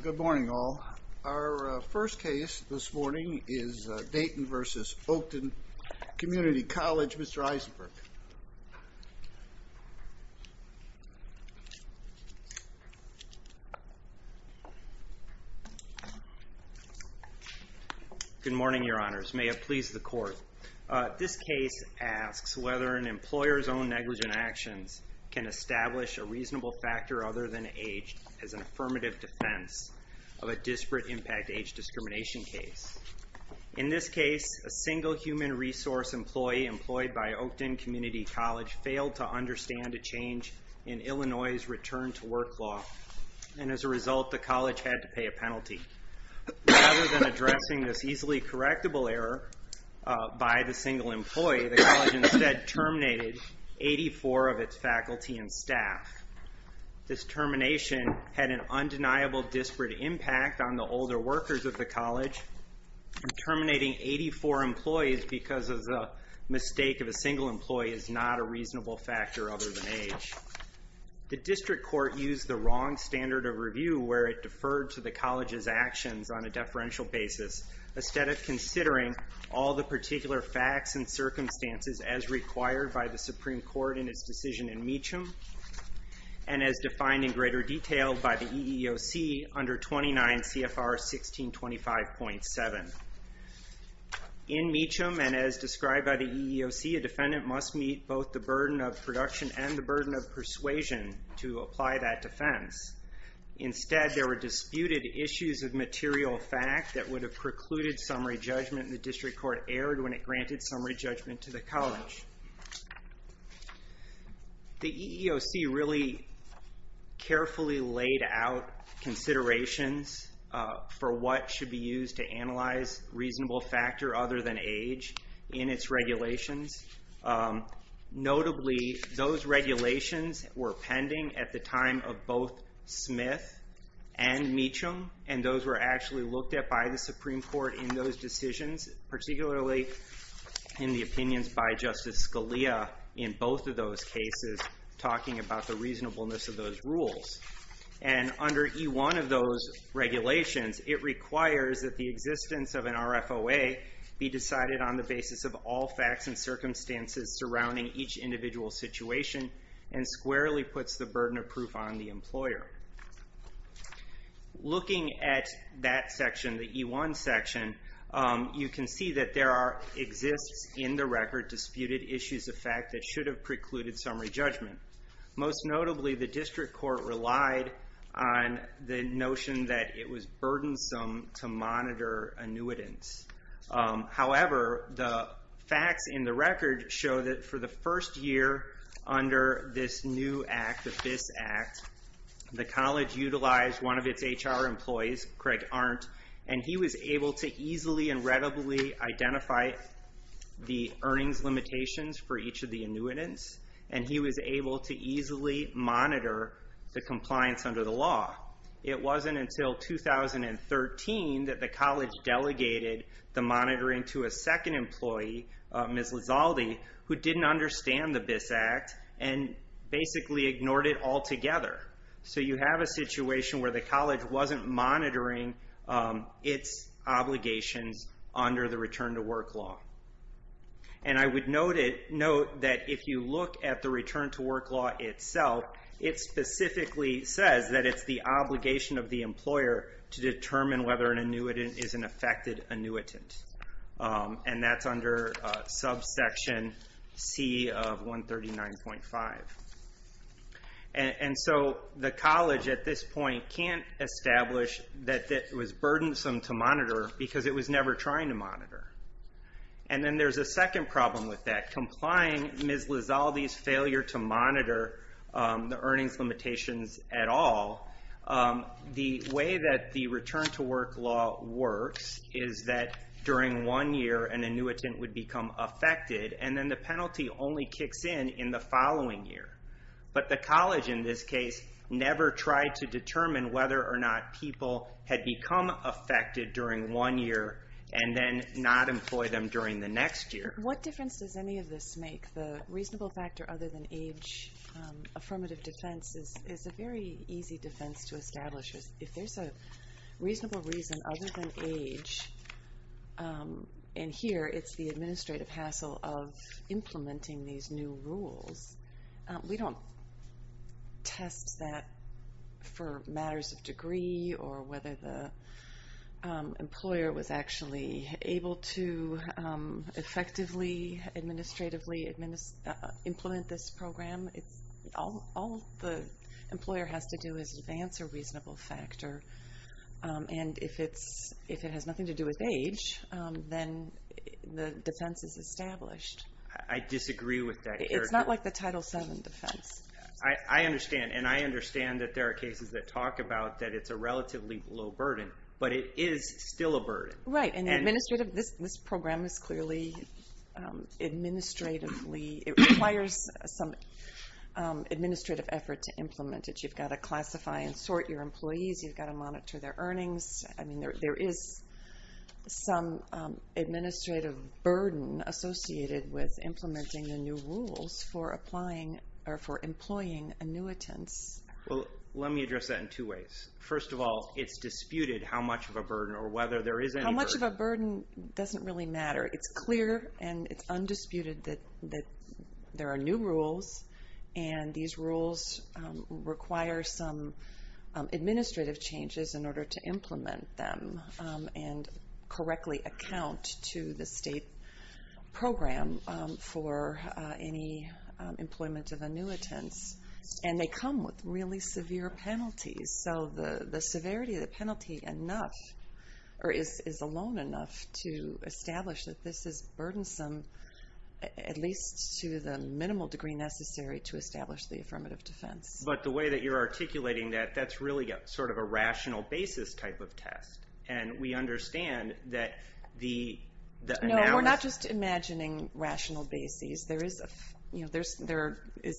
Good morning, all. Our first case this morning is Dayton v. Oakton Community College. Mr. Eisenberg. Good morning, Your Honors. May it please the Court. This case asks whether an employer's own negligent actions can establish a reasonable factor other than age as an affirmative defense of a disparate impact age discrimination case. In this case, a single human resource employee employed by Oakton Community College failed to understand a change in Illinois' return to work law, and as a result, the college had to pay a penalty. Rather than addressing this easily correctable error by the single employee, the college instead terminated 84 of its faculty and staff. This termination had an undeniable disparate impact on the older workers of the college, and terminating 84 employees because of the mistake of a single employee is not a reasonable factor other than age. The district court used the wrong standard of review where it deferred to the college's actions on a deferential basis, instead of considering all the particular facts and circumstances as required by the Supreme Court in its decision in Meacham, and as defined in greater detail by the EEOC under 29 CFR 1625.7. In Meacham, and as described by the EEOC, a defendant must meet both the burden of production and the burden of persuasion to apply that defense. Instead, there were disputed issues of material fact that would have precluded summary judgment, and the district court erred when it granted summary judgment to the college. The EEOC really carefully laid out considerations for what should be used to analyze reasonable factor other than age in its regulations. Notably, those regulations were pending at the time of both Smith and Meacham, and those were actually looked at by the Supreme Court in those decisions, particularly in the opinions by Justice Scalia in both of those cases, talking about the reasonableness of those rules. Under E1 of those regulations, it requires that the existence of an RFOA be decided on the basis of all facts and circumstances surrounding each individual situation, and squarely puts the burden of proof on the employer. Looking at that section, the E1 section, you can see that there exists in the record disputed issues of fact that should have precluded summary judgment. Most notably, the district court relied on the notion that it was burdensome to monitor annuitants. However, the facts in the record show that for the first year under this new act, the FIS Act, the college utilized one of its HR employees, Craig Arndt, and he was able to easily and readily identify the earnings limitations for each of the annuitants. He was able to easily monitor the compliance under the law. It wasn't until 2013 that the college delegated the monitoring to a second employee, Ms. Lizalde, who didn't understand the FIS Act and basically ignored it altogether. You have a situation where the college wasn't monitoring its obligations under the return to work law. I would note that if you look at the return to work law itself, it specifically says that it's the obligation of the employer to determine whether an annuitant is an affected annuitant. That's under subsection C of 139.5. The college at this point can't establish that it was burdensome to monitor because it was never trying to monitor. Then there's a second problem with that, complying Ms. Lizalde's failure to monitor the earnings limitations at all. The way that the return to work law works is that during one year, an annuitant would become affected, and then the penalty only kicks in in the following year. But the college, in this case, never tried to determine whether or not people had become affected during one year and then not employ them during the next year. What difference does any of this make? The reasonable factor other than age affirmative defense is a very easy defense to establish. If there's a reasonable reason other than age, and here it's the administrative hassle of implementing these new rules, we don't test that for matters of degree or whether the employer was actually able to effectively, administratively implement this program. All the employer has to do is advance a reasonable factor, and if it has nothing to do with age, then the defense is established. I disagree with that. It's not like the Title VII defense. I understand, and I understand that there are cases that talk about that it's a relatively low burden, but it is still a burden. Right, and administrative, this program is clearly administratively, it requires some administrative effort to implement it. You've got to classify and sort your employees, you've got to monitor their earnings. I mean, there is some administrative burden associated with implementing the new rules for employing annuitants. Well, let me address that in two ways. First of all, it's disputed how much of a burden or whether there is any burden. How much of a burden doesn't really matter. It's clear and it's undisputed that there are new rules, and these rules require some administrative changes in order to implement them and correctly account to the state program for any employment of annuitants. And they come with really severe penalties. So the severity of the penalty is alone enough to establish that this is burdensome, at least to the minimal degree necessary to establish the affirmative defense. But the way that you're articulating that, that's really sort of a rational basis type of test. And we understand that the analysis... No, we're not just imagining rational basis. There is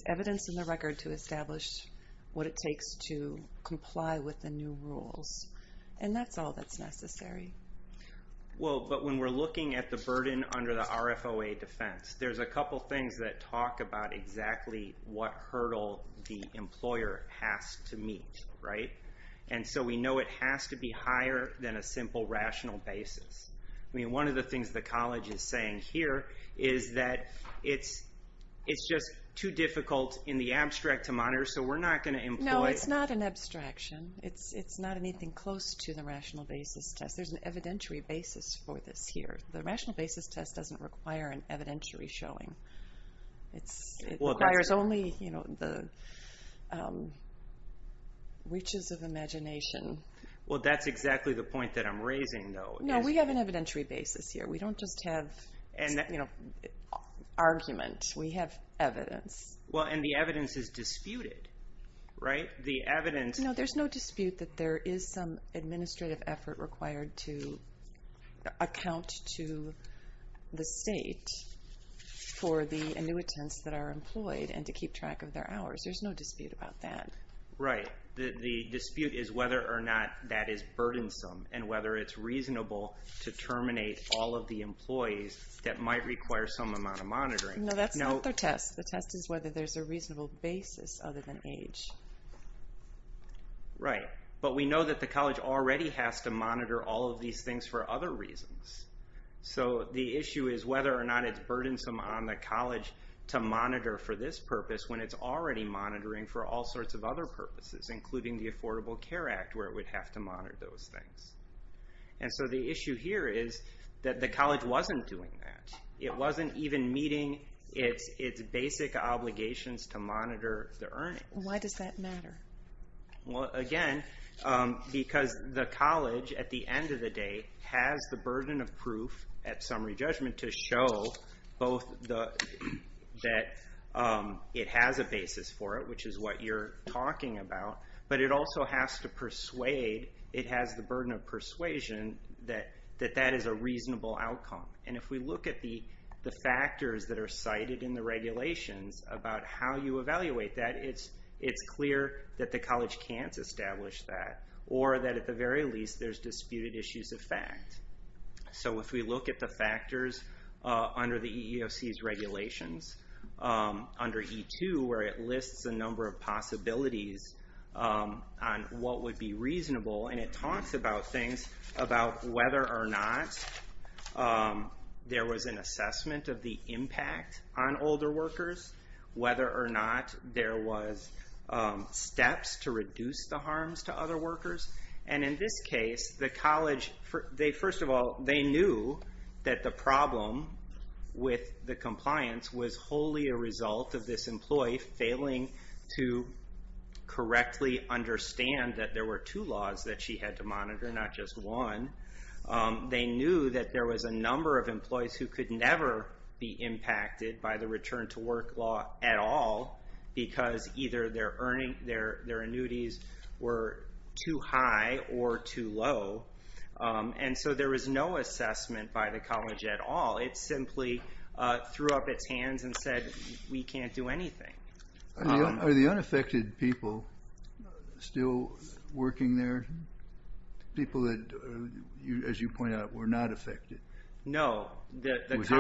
evidence in the record to establish what it takes to comply with the new rules. And that's all that's necessary. Well, but when we're looking at the burden under the RFOA defense, there's a couple things that talk about exactly what hurdle the employer has to meet, right? And so we know it has to be higher than a simple rational basis. I mean, one of the things the college is saying here is that it's just too difficult in the abstract to monitor, so we're not going to employ... No, it's not an abstraction. It's not anything close to the rational basis test. There's an evidentiary basis for this here. The rational basis test doesn't require an evidentiary showing. It requires only the reaches of imagination. Well, that's exactly the point that I'm raising, though. No, we have an evidentiary basis here. We don't just have argument. We have evidence. Well, and the evidence is disputed, right? The evidence... No, there's no dispute that there is some administrative effort required to account to the state for the annuitants that are employed and to keep track of their hours. There's no dispute about that. Right. The dispute is whether or not that is burdensome and whether it's reasonable to terminate all of the employees that might require some amount of monitoring. No, that's not the test. The test is whether there's a reasonable basis other than age. Right. But we know that the college already has to monitor all of these things for other reasons. So the issue is whether or not it's burdensome on the college to monitor for this purpose when it's already monitoring for all sorts of other purposes, including the Affordable Care Act, where it would have to monitor those things. And so the issue here is that the college wasn't doing that. It wasn't even meeting its basic obligations to monitor the earnings. Why does that matter? Well, again, because the college, at the end of the day, has the burden of proof at summary judgment to show both that it has a basis for it, which is what you're talking about, but it also has to persuade, it has the burden of persuasion that that is a reasonable outcome. And if we look at the factors that are cited in the regulations about how you evaluate that, it's clear that the college can't establish that or that at the very least there's disputed issues of fact. So if we look at the factors under the EEOC's regulations, under E2 where it lists a number of possibilities on what would be reasonable, and it talks about things about whether or not there was an assessment of the impact on older workers, whether or not there was steps to reduce the harms to other workers. And in this case, the college, first of all, they knew that the problem with the compliance was wholly a result of this employee failing to correctly understand that there were two laws that she had to monitor, not just one. They knew that there was a number of employees who could never be impacted by the return to work law at all because either their annuities were too high or too low. And so there was no assessment by the college at all. It simply threw up its hands and said, we can't do anything. Are the unaffected people still working there? People that, as you point out, were not affected? No.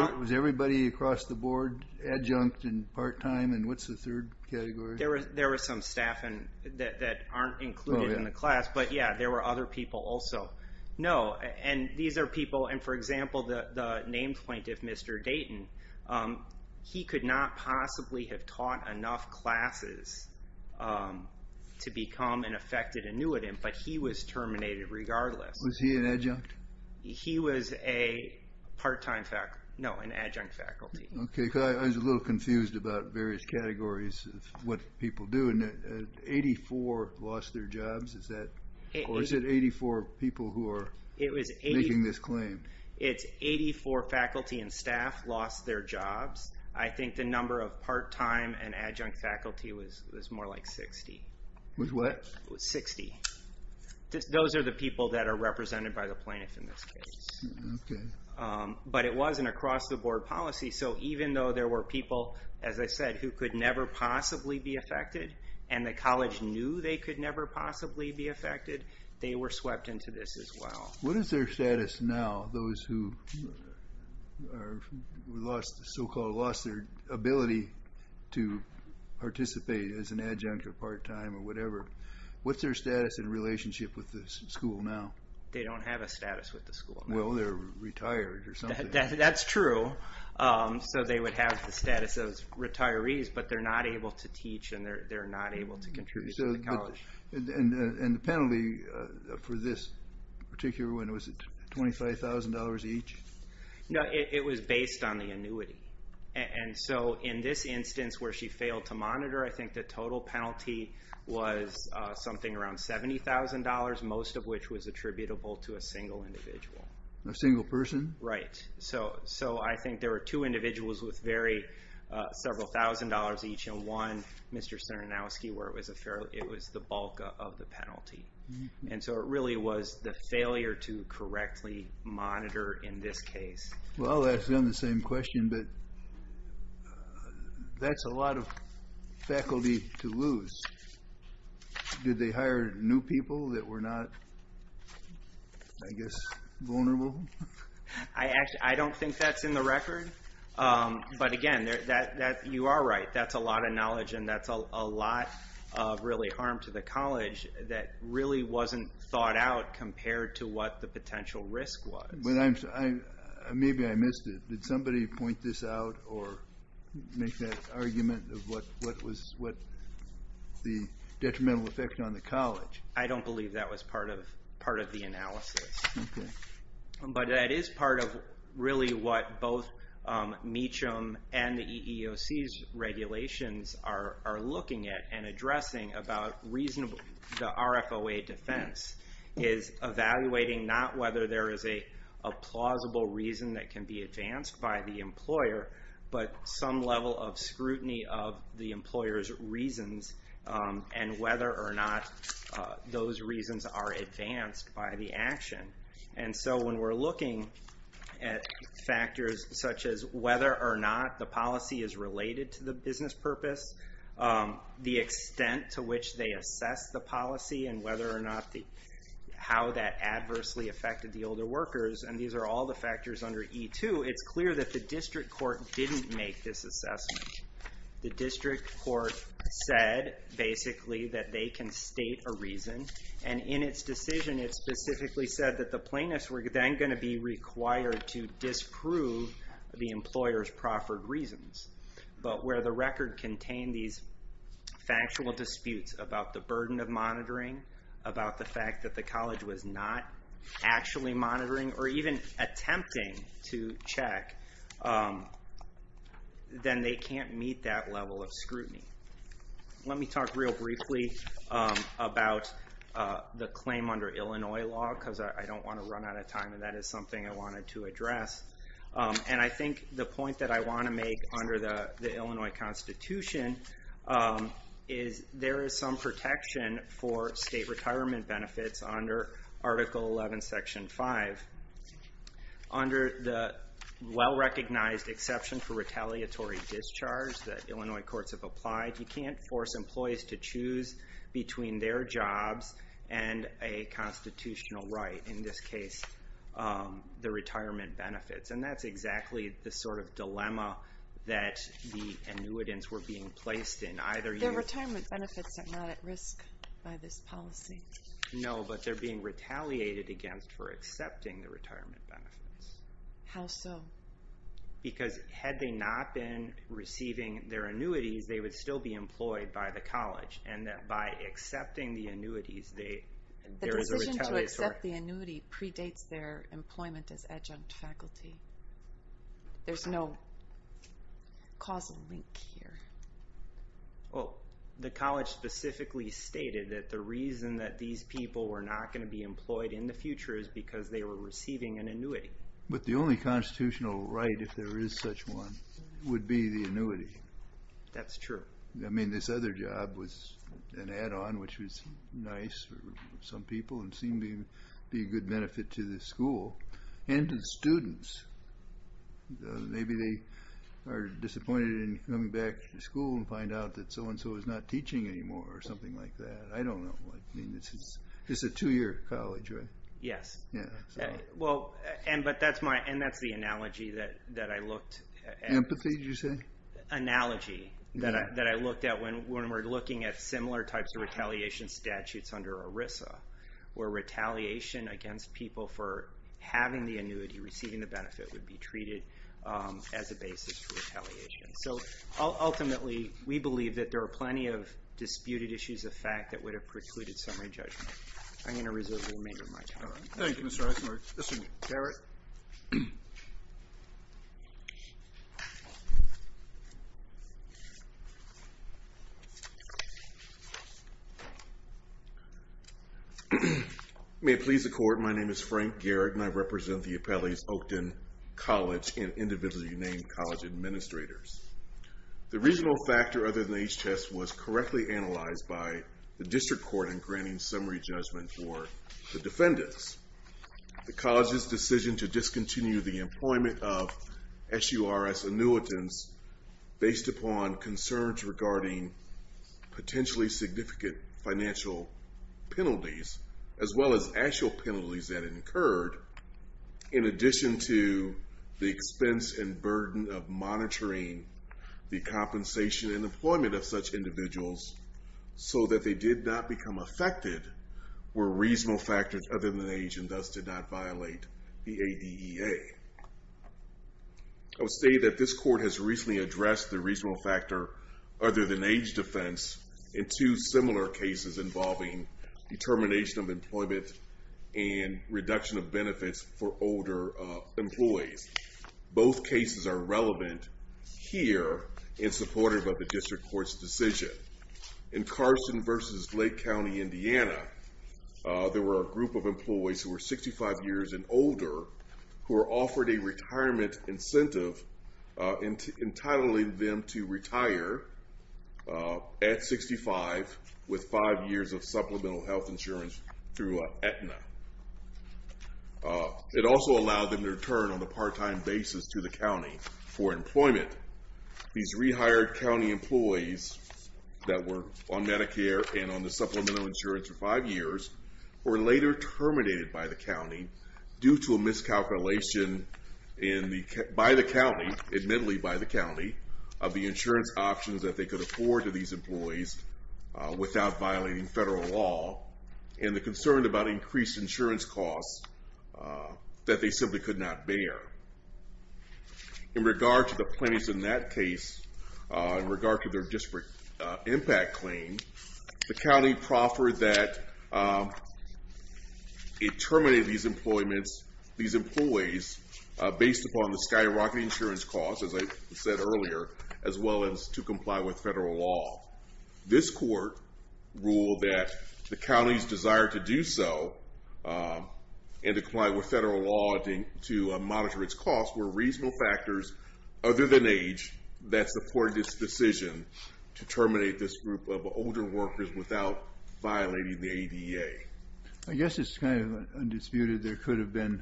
Was everybody across the board adjunct and part-time? And what's the third category? There was some staff that aren't included in the class, but, yeah, there were other people also. No. And these are people, and for example, the named plaintiff, Mr. Dayton, he could not possibly have taught enough classes to become an affected annuitant, but he was terminated regardless. Was he an adjunct? He was a part-time faculty. No, an adjunct faculty. Okay, because I was a little confused about various categories of what people do. And 84 lost their jobs? Or is it 84 people who are making this claim? It's 84 faculty and staff lost their jobs. I think the number of part-time and adjunct faculty was more like 60. Was what? It was 60. Those are the people that are represented by the plaintiff in this case. Okay. But it was an across-the-board policy, so even though there were people, as I said, who could never possibly be affected and the college knew they could never possibly be affected, they were swept into this as well. What is their status now, those who so-called lost their ability to participate as an adjunct or part-time or whatever? What's their status in relationship with the school now? They don't have a status with the school. Well, they're retired or something. That's true. So they would have the status of retirees, but they're not able to teach and they're not able to contribute to the college. And the penalty for this particular one, was it $25,000 each? No, it was based on the annuity. And so in this instance where she failed to monitor, I think the total penalty was something around $70,000, most of which was attributable to a single individual. A single person? Right. So I think there were two individuals with several thousand dollars each and one Mr. Sternowski where it was the bulk of the penalty. And so it really was the failure to correctly monitor in this case. Well, I'll ask them the same question, but that's a lot of faculty to lose. Did they hire new people that were not, I guess, vulnerable? I don't think that's in the record. But again, you are right. That's a lot of knowledge and that's a lot of really harm to the college that really wasn't thought out compared to what the potential risk was. Maybe I missed it. Did somebody point this out or make that argument of what was the detrimental effect on the college? I don't believe that was part of the analysis. But it is part of really what both Meacham and the EEOC's regulations are looking at and addressing about the RFOA defense is evaluating not whether there is a plausible reason that can be advanced by the employer, but some level of scrutiny of the employer's reasons and whether or not those reasons are advanced by the action. And so when we're looking at factors such as whether or not the policy is related to the business purpose, the extent to which they assess the policy and whether or not how that adversely affected the older workers, and these are all the factors under E2, it's clear that the district court didn't make this assessment. The district court said, basically, that they can state a reason. And in its decision, it specifically said that the plaintiffs were then going to be required to disprove the employer's proffered reasons. But where the record contained these factual disputes about the burden of monitoring, about the fact that the college was not actually monitoring or even attempting to check, then they can't meet that level of scrutiny. Let me talk real briefly about the claim under Illinois law because I don't want to run out of time, and that is something I wanted to address. And I think the point that I want to make under the Illinois Constitution is there is some protection for state retirement benefits under Article 11, Section 5. Under the well-recognized exception for retaliatory discharge that Illinois courts have applied, you can't force employees to choose between their jobs and a constitutional right, in this case, the retirement benefits. And that's exactly the sort of dilemma that the annuitants were being placed in. The retirement benefits are not at risk by this policy. No, but they're being retaliated against for accepting the retirement benefits. How so? Because had they not been receiving their annuities, they would still be employed by the college. And by accepting the annuities, there is a retaliatory... There's no causal link here. Well, the college specifically stated that the reason that these people were not going to be employed in the future is because they were receiving an annuity. But the only constitutional right, if there is such one, would be the annuity. That's true. I mean, this other job was an add-on, which was nice for some people and seemed to be a good benefit to the school and to the students. Maybe they are disappointed in coming back to school and find out that so-and-so is not teaching anymore or something like that. I don't know. I mean, this is a two-year college, right? Yes. Yeah. Well, and that's the analogy that I looked at. Empathy, did you say? Analogy that I looked at when we're looking at similar types of retaliation statutes under ERISA, where retaliation against people for having the annuity, receiving the benefit, would be treated as a basis for retaliation. So ultimately, we believe that there are plenty of disputed issues of fact that would have precluded summary judgment. I'm going to reserve the remainder of my time. Thank you, Mr. Eisenhart. Mr. Garrett. May it please the Court, my name is Frank Garrett and I represent the Appellees Oakton College and individually named college administrators. The regional factor other than the age test was correctly analyzed by the district court in granting summary judgment for the defendants. The college's decision to discontinue the employment of SURS annuitants based upon concerns regarding potentially significant financial penalties, as well as actual penalties that incurred, in addition to the expense and burden of monitoring the compensation and employment of such individuals so that they did not become affected, were reasonable factors other than age and thus did not violate the ADEA. I would say that this court has recently addressed the reasonable factor other than age defense in two similar cases involving determination of employment and reduction of benefits for older employees. Both cases are relevant here and supported by the district court's decision. In Carson versus Lake County, Indiana, there were a group of employees who were 65 years and older who were offered a retirement incentive entitling them to retire at 65 with five years of supplemental health insurance through Aetna. It also allowed them to return on a part-time basis to the county for employment. These rehired county employees that were on Medicare and on the supplemental insurance for five years were later terminated by the county due to a miscalculation by the county, admittedly by the county, of the insurance options that they could afford to these employees without violating federal law and the concern about increased insurance costs that they simply could not bear. In regard to the plaintiffs in that case, in regard to their disparate impact claim, the county proffered that it terminated these employees based upon the skyrocketing insurance costs, as I said earlier, as well as to comply with federal law. This court ruled that the county's desire to do so and to comply with federal law to monitor its costs were reasonable factors, other than age, that supported this decision to terminate this group of older workers without violating the ADA. I guess it's kind of undisputed there could have been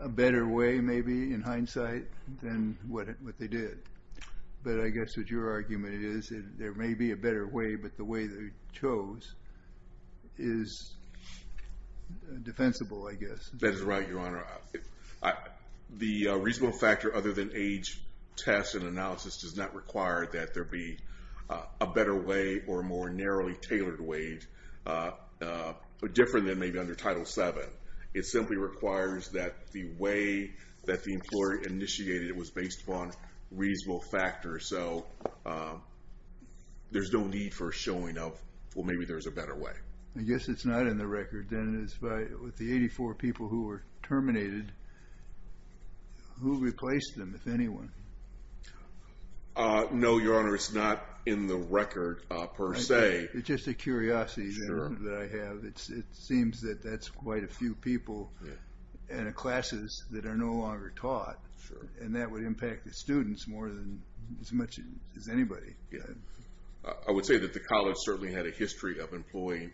a better way, maybe, in hindsight, than what they did. But I guess what your argument is that there may be a better way, but the way they chose is defensible, I guess. That is right, Your Honor. The reasonable factor other than age tests and analysis does not require that there be a better way or a more narrowly tailored way, different than maybe under Title VII. It simply requires that the way that the employer initiated it was based upon reasonable factors. So there's no need for a showing of, well, maybe there's a better way. I guess it's not in the record. With the 84 people who were terminated, who replaced them, if anyone? No, Your Honor, it's not in the record per se. It's just a curiosity that I have. It seems that that's quite a few people in classes that are no longer taught. And that would impact the students more than as much as anybody. I would say that the college certainly had a history of employing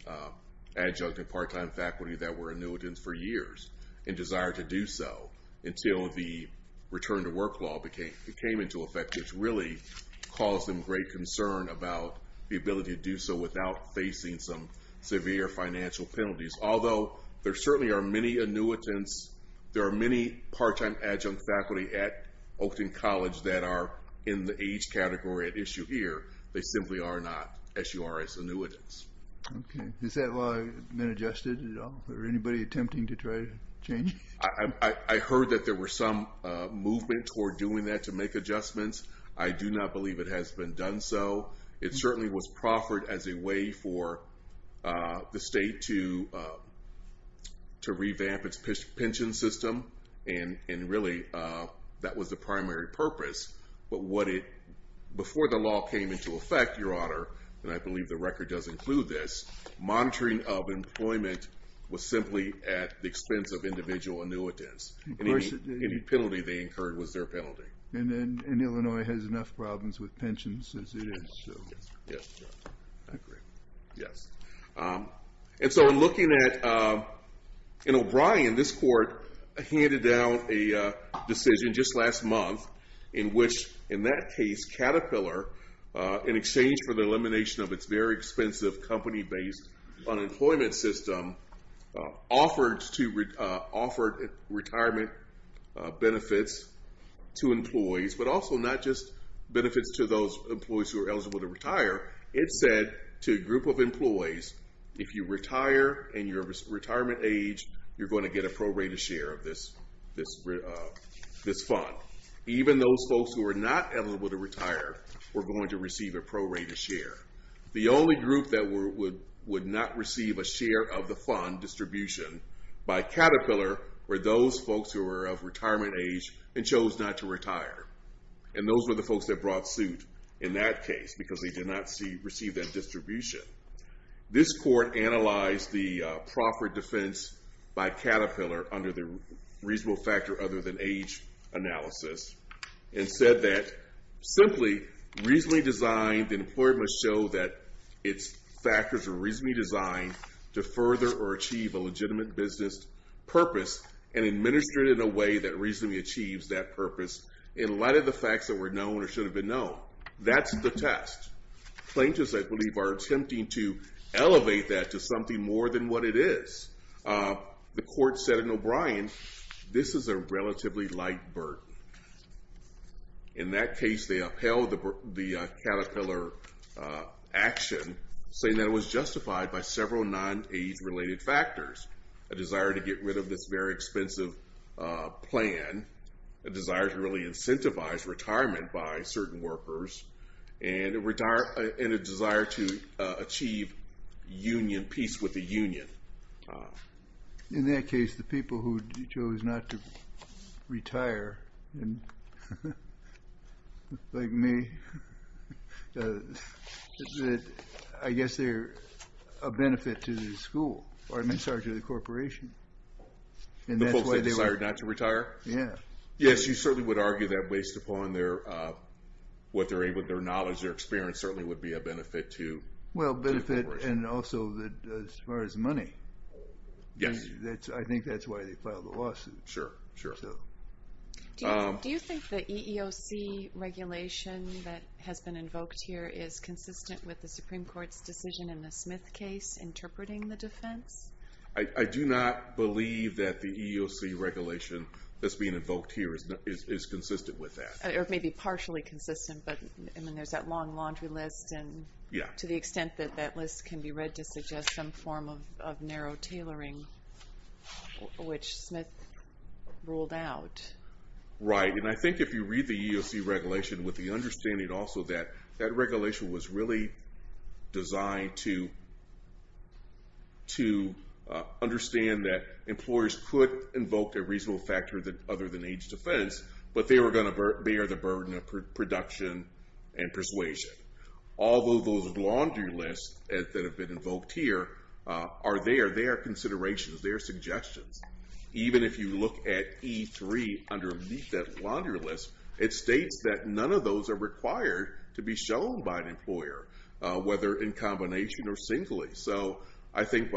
adjunct and part-time faculty that were annuitants for years and desired to do so until the return to work law came into effect, which really caused them great concern about the ability to do so without facing some severe financial penalties. Although there certainly are many annuitants, there are many part-time adjunct faculty at Oakton College that are in the age category at issue here. They simply are not SURS annuitants. Okay. Has that law been adjusted at all? Is there anybody attempting to try to change it? I heard that there was some movement toward doing that to make adjustments. I do not believe it has been done so. It certainly was proffered as a way for the state to revamp its pension system, and really that was the primary purpose. But before the law came into effect, Your Honor, and I believe the record does include this, monitoring of employment was simply at the expense of individual annuitants. Any penalty they incurred was their penalty. And Illinois has enough problems with pensions as it is. Yes. I agree. Yes. And so in looking at O'Brien, this court handed down a decision just last month in which, in that case, Caterpillar, in exchange for the elimination of its very expensive company-based unemployment system, offered retirement benefits to employees, but also not just benefits to those employees who are eligible to retire. It said to a group of employees, if you retire in your retirement age, you're going to get a prorated share of this fund. Even those folks who are not eligible to retire were going to receive a prorated share. The only group that would not receive a share of the fund distribution by Caterpillar were those folks who were of retirement age and chose not to retire. And those were the folks that brought suit in that case because they did not receive that distribution. This court analyzed the proffered defense by Caterpillar under the reasonable factor other than age analysis and said that simply reasonably designed employment show that its factors are reasonably designed to further or achieve a legitimate business purpose and administer it in a way that reasonably achieves that purpose in light of the facts that were known or should have been known. That's the test. Plaintiffs, I believe, are attempting to elevate that to something more than what it is. The court said in O'Brien, this is a relatively light burden. In that case, they upheld the Caterpillar action saying that it was justified by several non-age related factors. A desire to get rid of this very expensive plan, a desire to really incentivize retirement by certain workers, and a desire to achieve peace with the union. In that case, the people who chose not to retire, like me, I guess they're a benefit to the school, or I'm sorry, to the corporation. The folks that decided not to retire? Yeah. Yes, you certainly would argue that based upon what their knowledge, their experience certainly would be a benefit to the corporation. Well, benefit and also as far as money. Yes. I think that's why they filed the lawsuit. Sure, sure. Do you think the EEOC regulation that has been invoked here is consistent with the Supreme Court's decision in the Smith case interpreting the defense? I do not believe that the EEOC regulation that's being invoked here is consistent with that. It may be partially consistent, but there's that long laundry list and to the extent that that list can be read to suggest some form of narrow tailoring, which Smith ruled out. Right, and I think if you read the EEOC regulation with the understanding also that that regulation was really designed to understand that employers could invoke a reasonable factor other than age defense, but they were going to bear the burden of production and persuasion. Although those laundry lists that have been invoked here are there, they are considerations, they are suggestions. Even if you look at E3 underneath that laundry list, it states that none of those are required to be shown by an employer, whether in combination or singly. So I think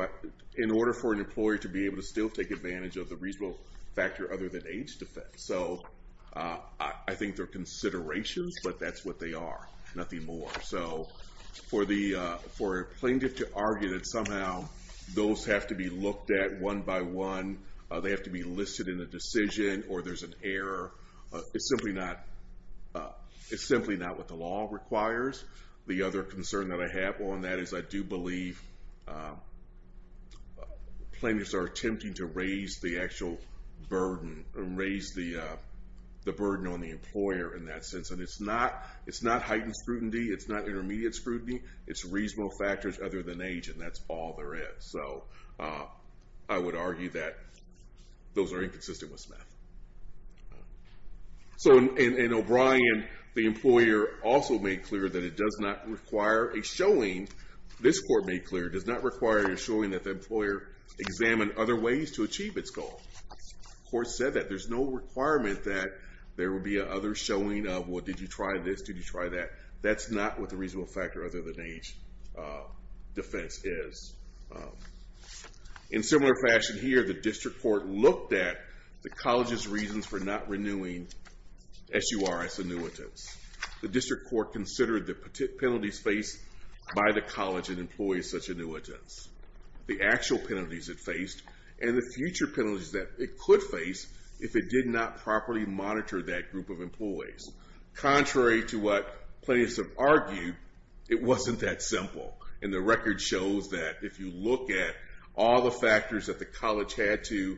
in order for an employer to be able to still take advantage of the reasonable factor other than age defense. So I think they're considerations, but that's what they are. Nothing more. So for a plaintiff to argue that somehow those have to be looked at one by one, they have to be listed in a decision or there's an error, it's simply not what the law requires. The other concern that I have on that is I do believe plaintiffs are attempting to raise the actual burden, raise the burden on the employer in that sense, and it's not heightened scrutiny, it's not intermediate scrutiny, it's reasonable factors other than age, and that's all there is. So I would argue that those are inconsistent with SMEF. So in O'Brien, the employer also made clear that it does not require a showing, this court made clear, does not require a showing that the employer examine other ways to achieve its goal. The court said that. There's no requirement that there would be an other showing of, well, did you try this, did you try that? That's not what the reasonable factor other than age defense is. In similar fashion here, the district court looked at the college's reasons for not renewing SURS annuitants. The district court considered the penalties faced by the college and employees such annuitants, the actual penalties it faced, and the future penalties that it could face if it did not properly monitor that group of employees. Contrary to what plaintiffs have argued, it wasn't that simple. And the record shows that if you look at all the factors that the college had to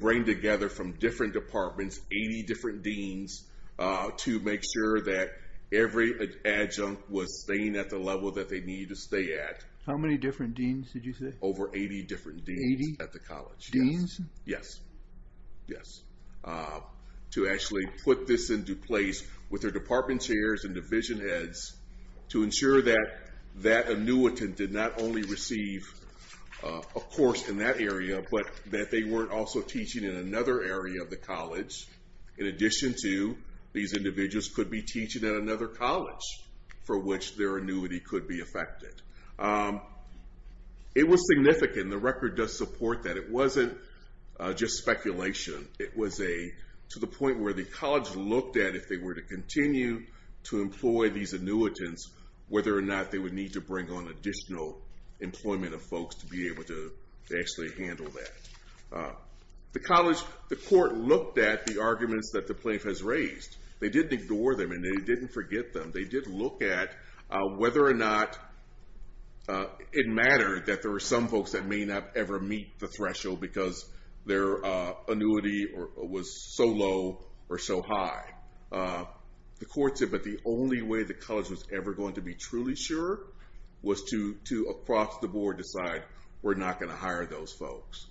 bring together from different departments, 80 different deans to make sure that every adjunct was staying at the level that they needed to stay at. How many different deans did you say? Over 80 different deans at the college. Deans? Yes. Yes. To actually put this into place with their department chairs and division heads to ensure that that annuitant did not only receive a course in that area, but that they weren't also teaching in another area of the college. In addition to, these individuals could be teaching at another college for which their annuity could be affected. It was significant. The record does support that. It wasn't just speculation. It was to the point where the college looked at, if they were to continue to employ these annuitants, whether or not they would need to bring on additional employment of folks to be able to actually handle that. The court looked at the arguments that the plaintiff has raised. They didn't ignore them, and they didn't forget them. They did look at whether or not it mattered that there were some folks that may not ever meet the threshold because their annuity was so low or so high. The court said, but the only way the college was ever going to be truly sure was to, across the board, decide we're not going to hire those folks.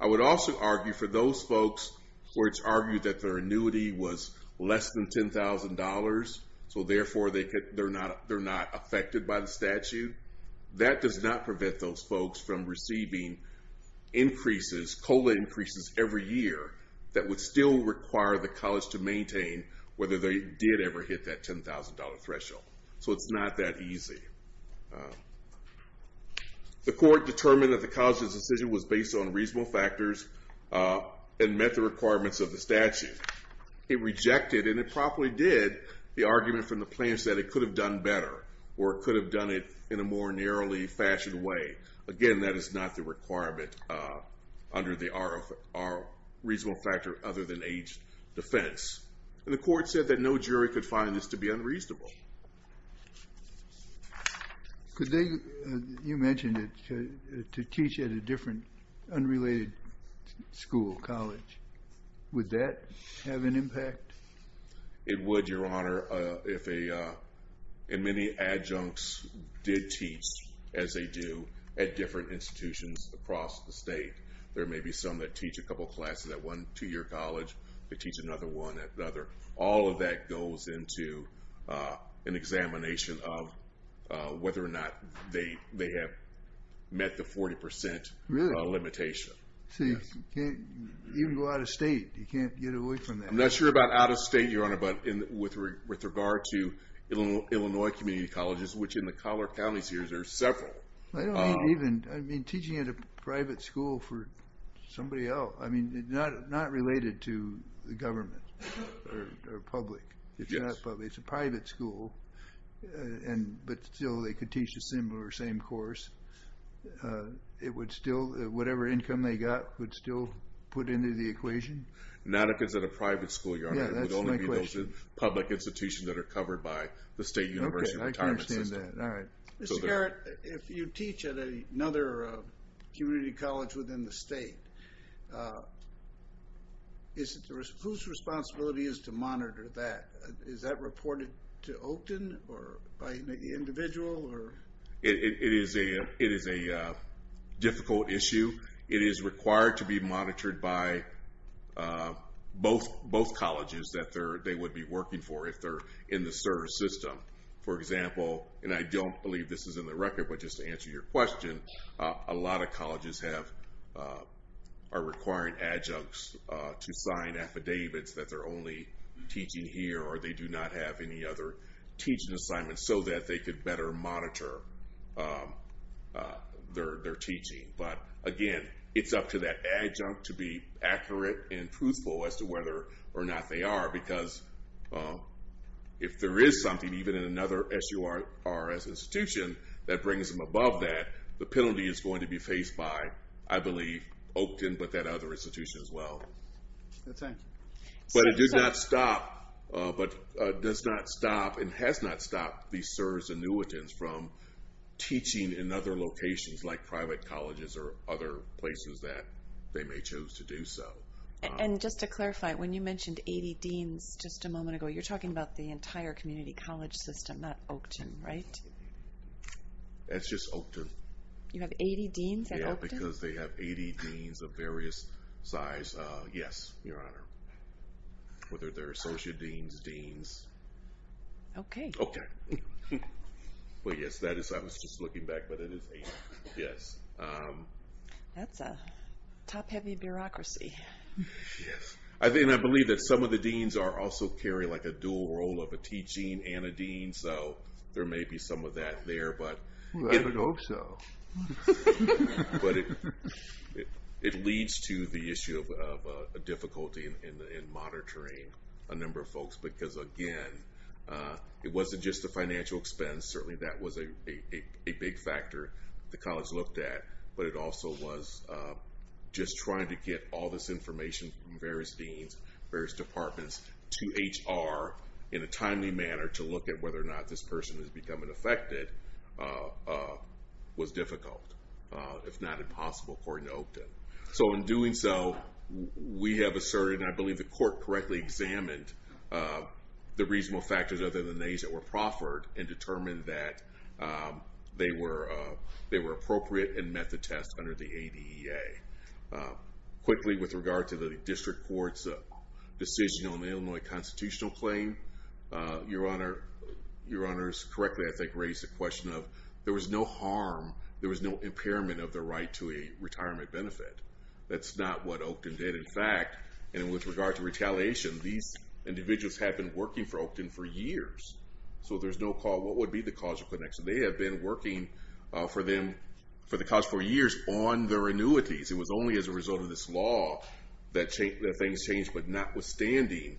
I would also argue for those folks where it's argued that their annuity was less than $10,000, so therefore they're not affected by the statute. That does not prevent those folks from receiving increases, COLA increases, every year that would still require the college to maintain whether they did ever hit that $10,000 threshold. So it's not that easy. The court determined that the college's decision was based on reasonable factors and met the requirements of the statute. It rejected, and it probably did, the argument from the plaintiff that it could have done better or it could have done it in a more narrowly fashioned way. Again, that is not the requirement under the reasonable factor other than age defense. And the court said that no jury could find this to be unreasonable. You mentioned to teach at a different, unrelated school, college. Would that have an impact? It would, Your Honor, if many adjuncts did teach as they do at different institutions across the state. There may be some that teach a couple classes at one two-year college, they teach another one at another. All of that goes into an examination of whether or not they have met the 40% limitation. So you can't even go out of state. You can't get away from that. I'm not sure about out of state, Your Honor, but with regard to Illinois Community Colleges, which in the Collier County series are several. I don't mean even, I mean teaching at a private school for somebody else. I mean, not related to the government or public. It's not public. It's a private school, but still they could teach a similar or same course. It would still, whatever income they got would still put into the equation? Not if it's at a private school, Your Honor. Yeah, that's my question. It would only be those public institutions that are covered by the state university retirement system. Okay, I can understand that. All right. Mr. Garrett, if you teach at another community college within the state, whose responsibility is to monitor that? Is that reported to Oakton or by an individual? It is a difficult issue. It is required to be monitored by both colleges that they would be working for if they're in the SURS system. For example, and I don't believe this is in the record, but just to answer your question, a lot of colleges are requiring adjuncts to sign affidavits that they're only teaching here or they do not have any other teaching assignments so that they could better monitor their teaching. But again, it's up to that adjunct to be accurate and truthful as to whether or not they are, because if there is something, even in another SURS institution that brings them above that, the penalty is going to be faced by, I believe, Oakton, but that other institution as well. That's right. But it does not stop and has not stopped these SURS annuitants from teaching in other locations like private colleges or other places that they may choose to do so. And just to clarify, when you mentioned 80 deans just a moment ago, you're talking about the entire community college system, not Oakton, right? It's just Oakton. You have 80 deans at Oakton? Because they have 80 deans of various size. Yes, Your Honor. Whether they're associate deans, deans. Okay. Okay. But yes, I was just looking back, but it is 80. Yes. That's a top-heavy bureaucracy. Yes. I believe that some of the deans also carry a dual role of a teaching and a dean, so there may be some of that there. I would hope so. But it leads to the issue of difficulty in monitoring a number of folks because, again, it wasn't just the financial expense. Certainly that was a big factor the college looked at, but it also was just trying to get all this information from various deans, various departments, to HR in a timely manner to look at whether or not this person is becoming affected was difficult, if not impossible, according to Oakton. So in doing so, we have asserted, and I believe the court correctly examined the reasonable factors other than these that were proffered and determined that they were appropriate and met the test under the ADEA. Your Honor, your honors correctly, I think, raised the question of there was no harm, there was no impairment of the right to a retirement benefit. That's not what Oakton did. In fact, and with regard to retaliation, these individuals have been working for Oakton for years, so there's no call what would be the cause of connection. They have been working for the college for years on their annuities. It was only as a result of this law that things changed, but notwithstanding,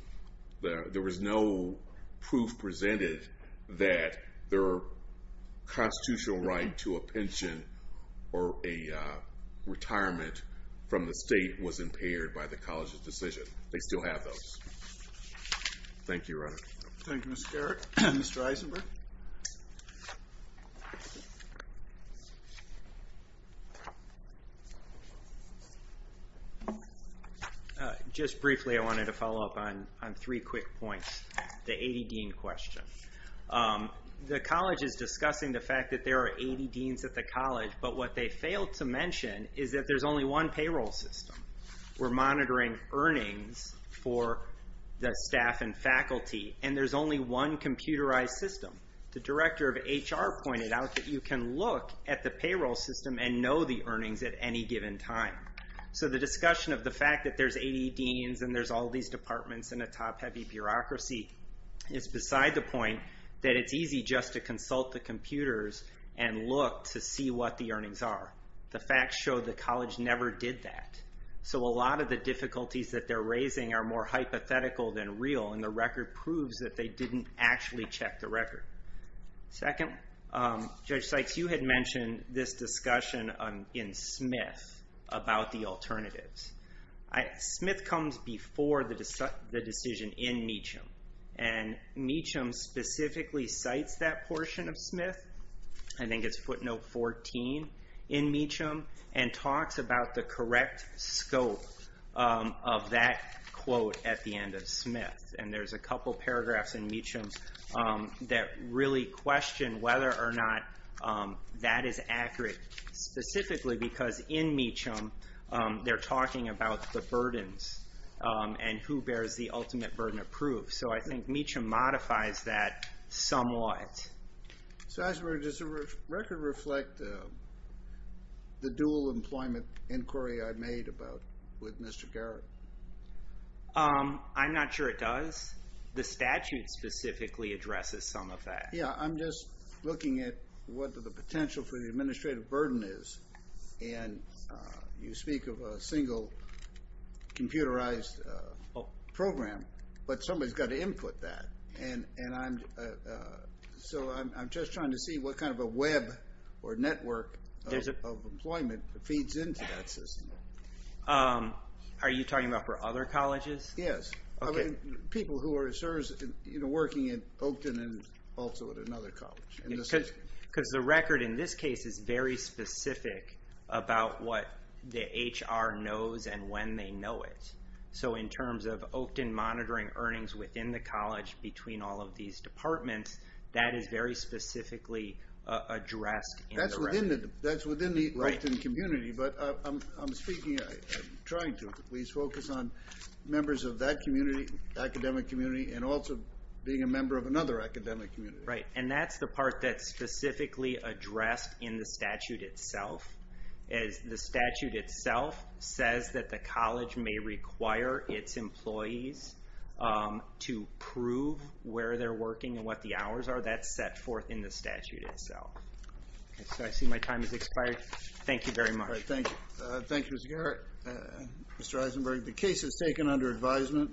there was no proof presented that their constitutional right to a pension or a retirement from the state was impaired by the college's decision. They still have those. Thank you, Your Honor. Thank you, Mr. Garrett. Mr. Eisenberg. Thank you. Just briefly, I wanted to follow up on three quick points. The AD Dean question. The college is discussing the fact that there are AD Deans at the college, but what they failed to mention is that there's only one payroll system. We're monitoring earnings for the staff and faculty, and there's only one computerized system. The director of HR pointed out that you can look at the payroll system and know the earnings at any given time. So the discussion of the fact that there's AD Deans and there's all these departments and a top-heavy bureaucracy is beside the point that it's easy just to consult the computers and look to see what the earnings are. The facts show the college never did that. So a lot of the difficulties that they're raising are more hypothetical than real, and the record proves that they didn't actually check the record. Second, Judge Sykes, you had mentioned this discussion in Smith about the alternatives. Smith comes before the decision in Meacham, and Meacham specifically cites that portion of Smith. I think it's footnote 14 in Meacham, and talks about the correct scope of that quote at the end of Smith. And there's a couple paragraphs in Meacham that really question whether or not that is accurate, specifically because in Meacham they're talking about the burdens and who bears the ultimate burden of proof. So I think Meacham modifies that somewhat. Sasberg, does the record reflect the dual employment inquiry I made with Mr. Garrett? I'm not sure it does. The statute specifically addresses some of that. Yeah, I'm just looking at what the potential for the administrative burden is. And you speak of a single computerized program, but somebody's got to input that. So I'm just trying to see what kind of a web or network of employment feeds into that system. Are you talking about for other colleges? Yes. People who are working at Oakton and also at another college. Because the record in this case is very specific about what the HR knows and when they know it. So in terms of Oakton monitoring earnings within the college between all of these departments, that is very specifically addressed. That's within the Oakton community, but I'm speaking, I'm trying to please focus on members of that community, academic community, and also being a member of another academic community. Right. And that's the part that's specifically addressed in the statute itself. The statute itself says that the college may require its employees to prove where they're working and what the hours are. That's set forth in the statute itself. So I see my time has expired. Thank you very much. Thank you, Mr. Garrett. Mr. Eisenberg, the case is taken under advisement.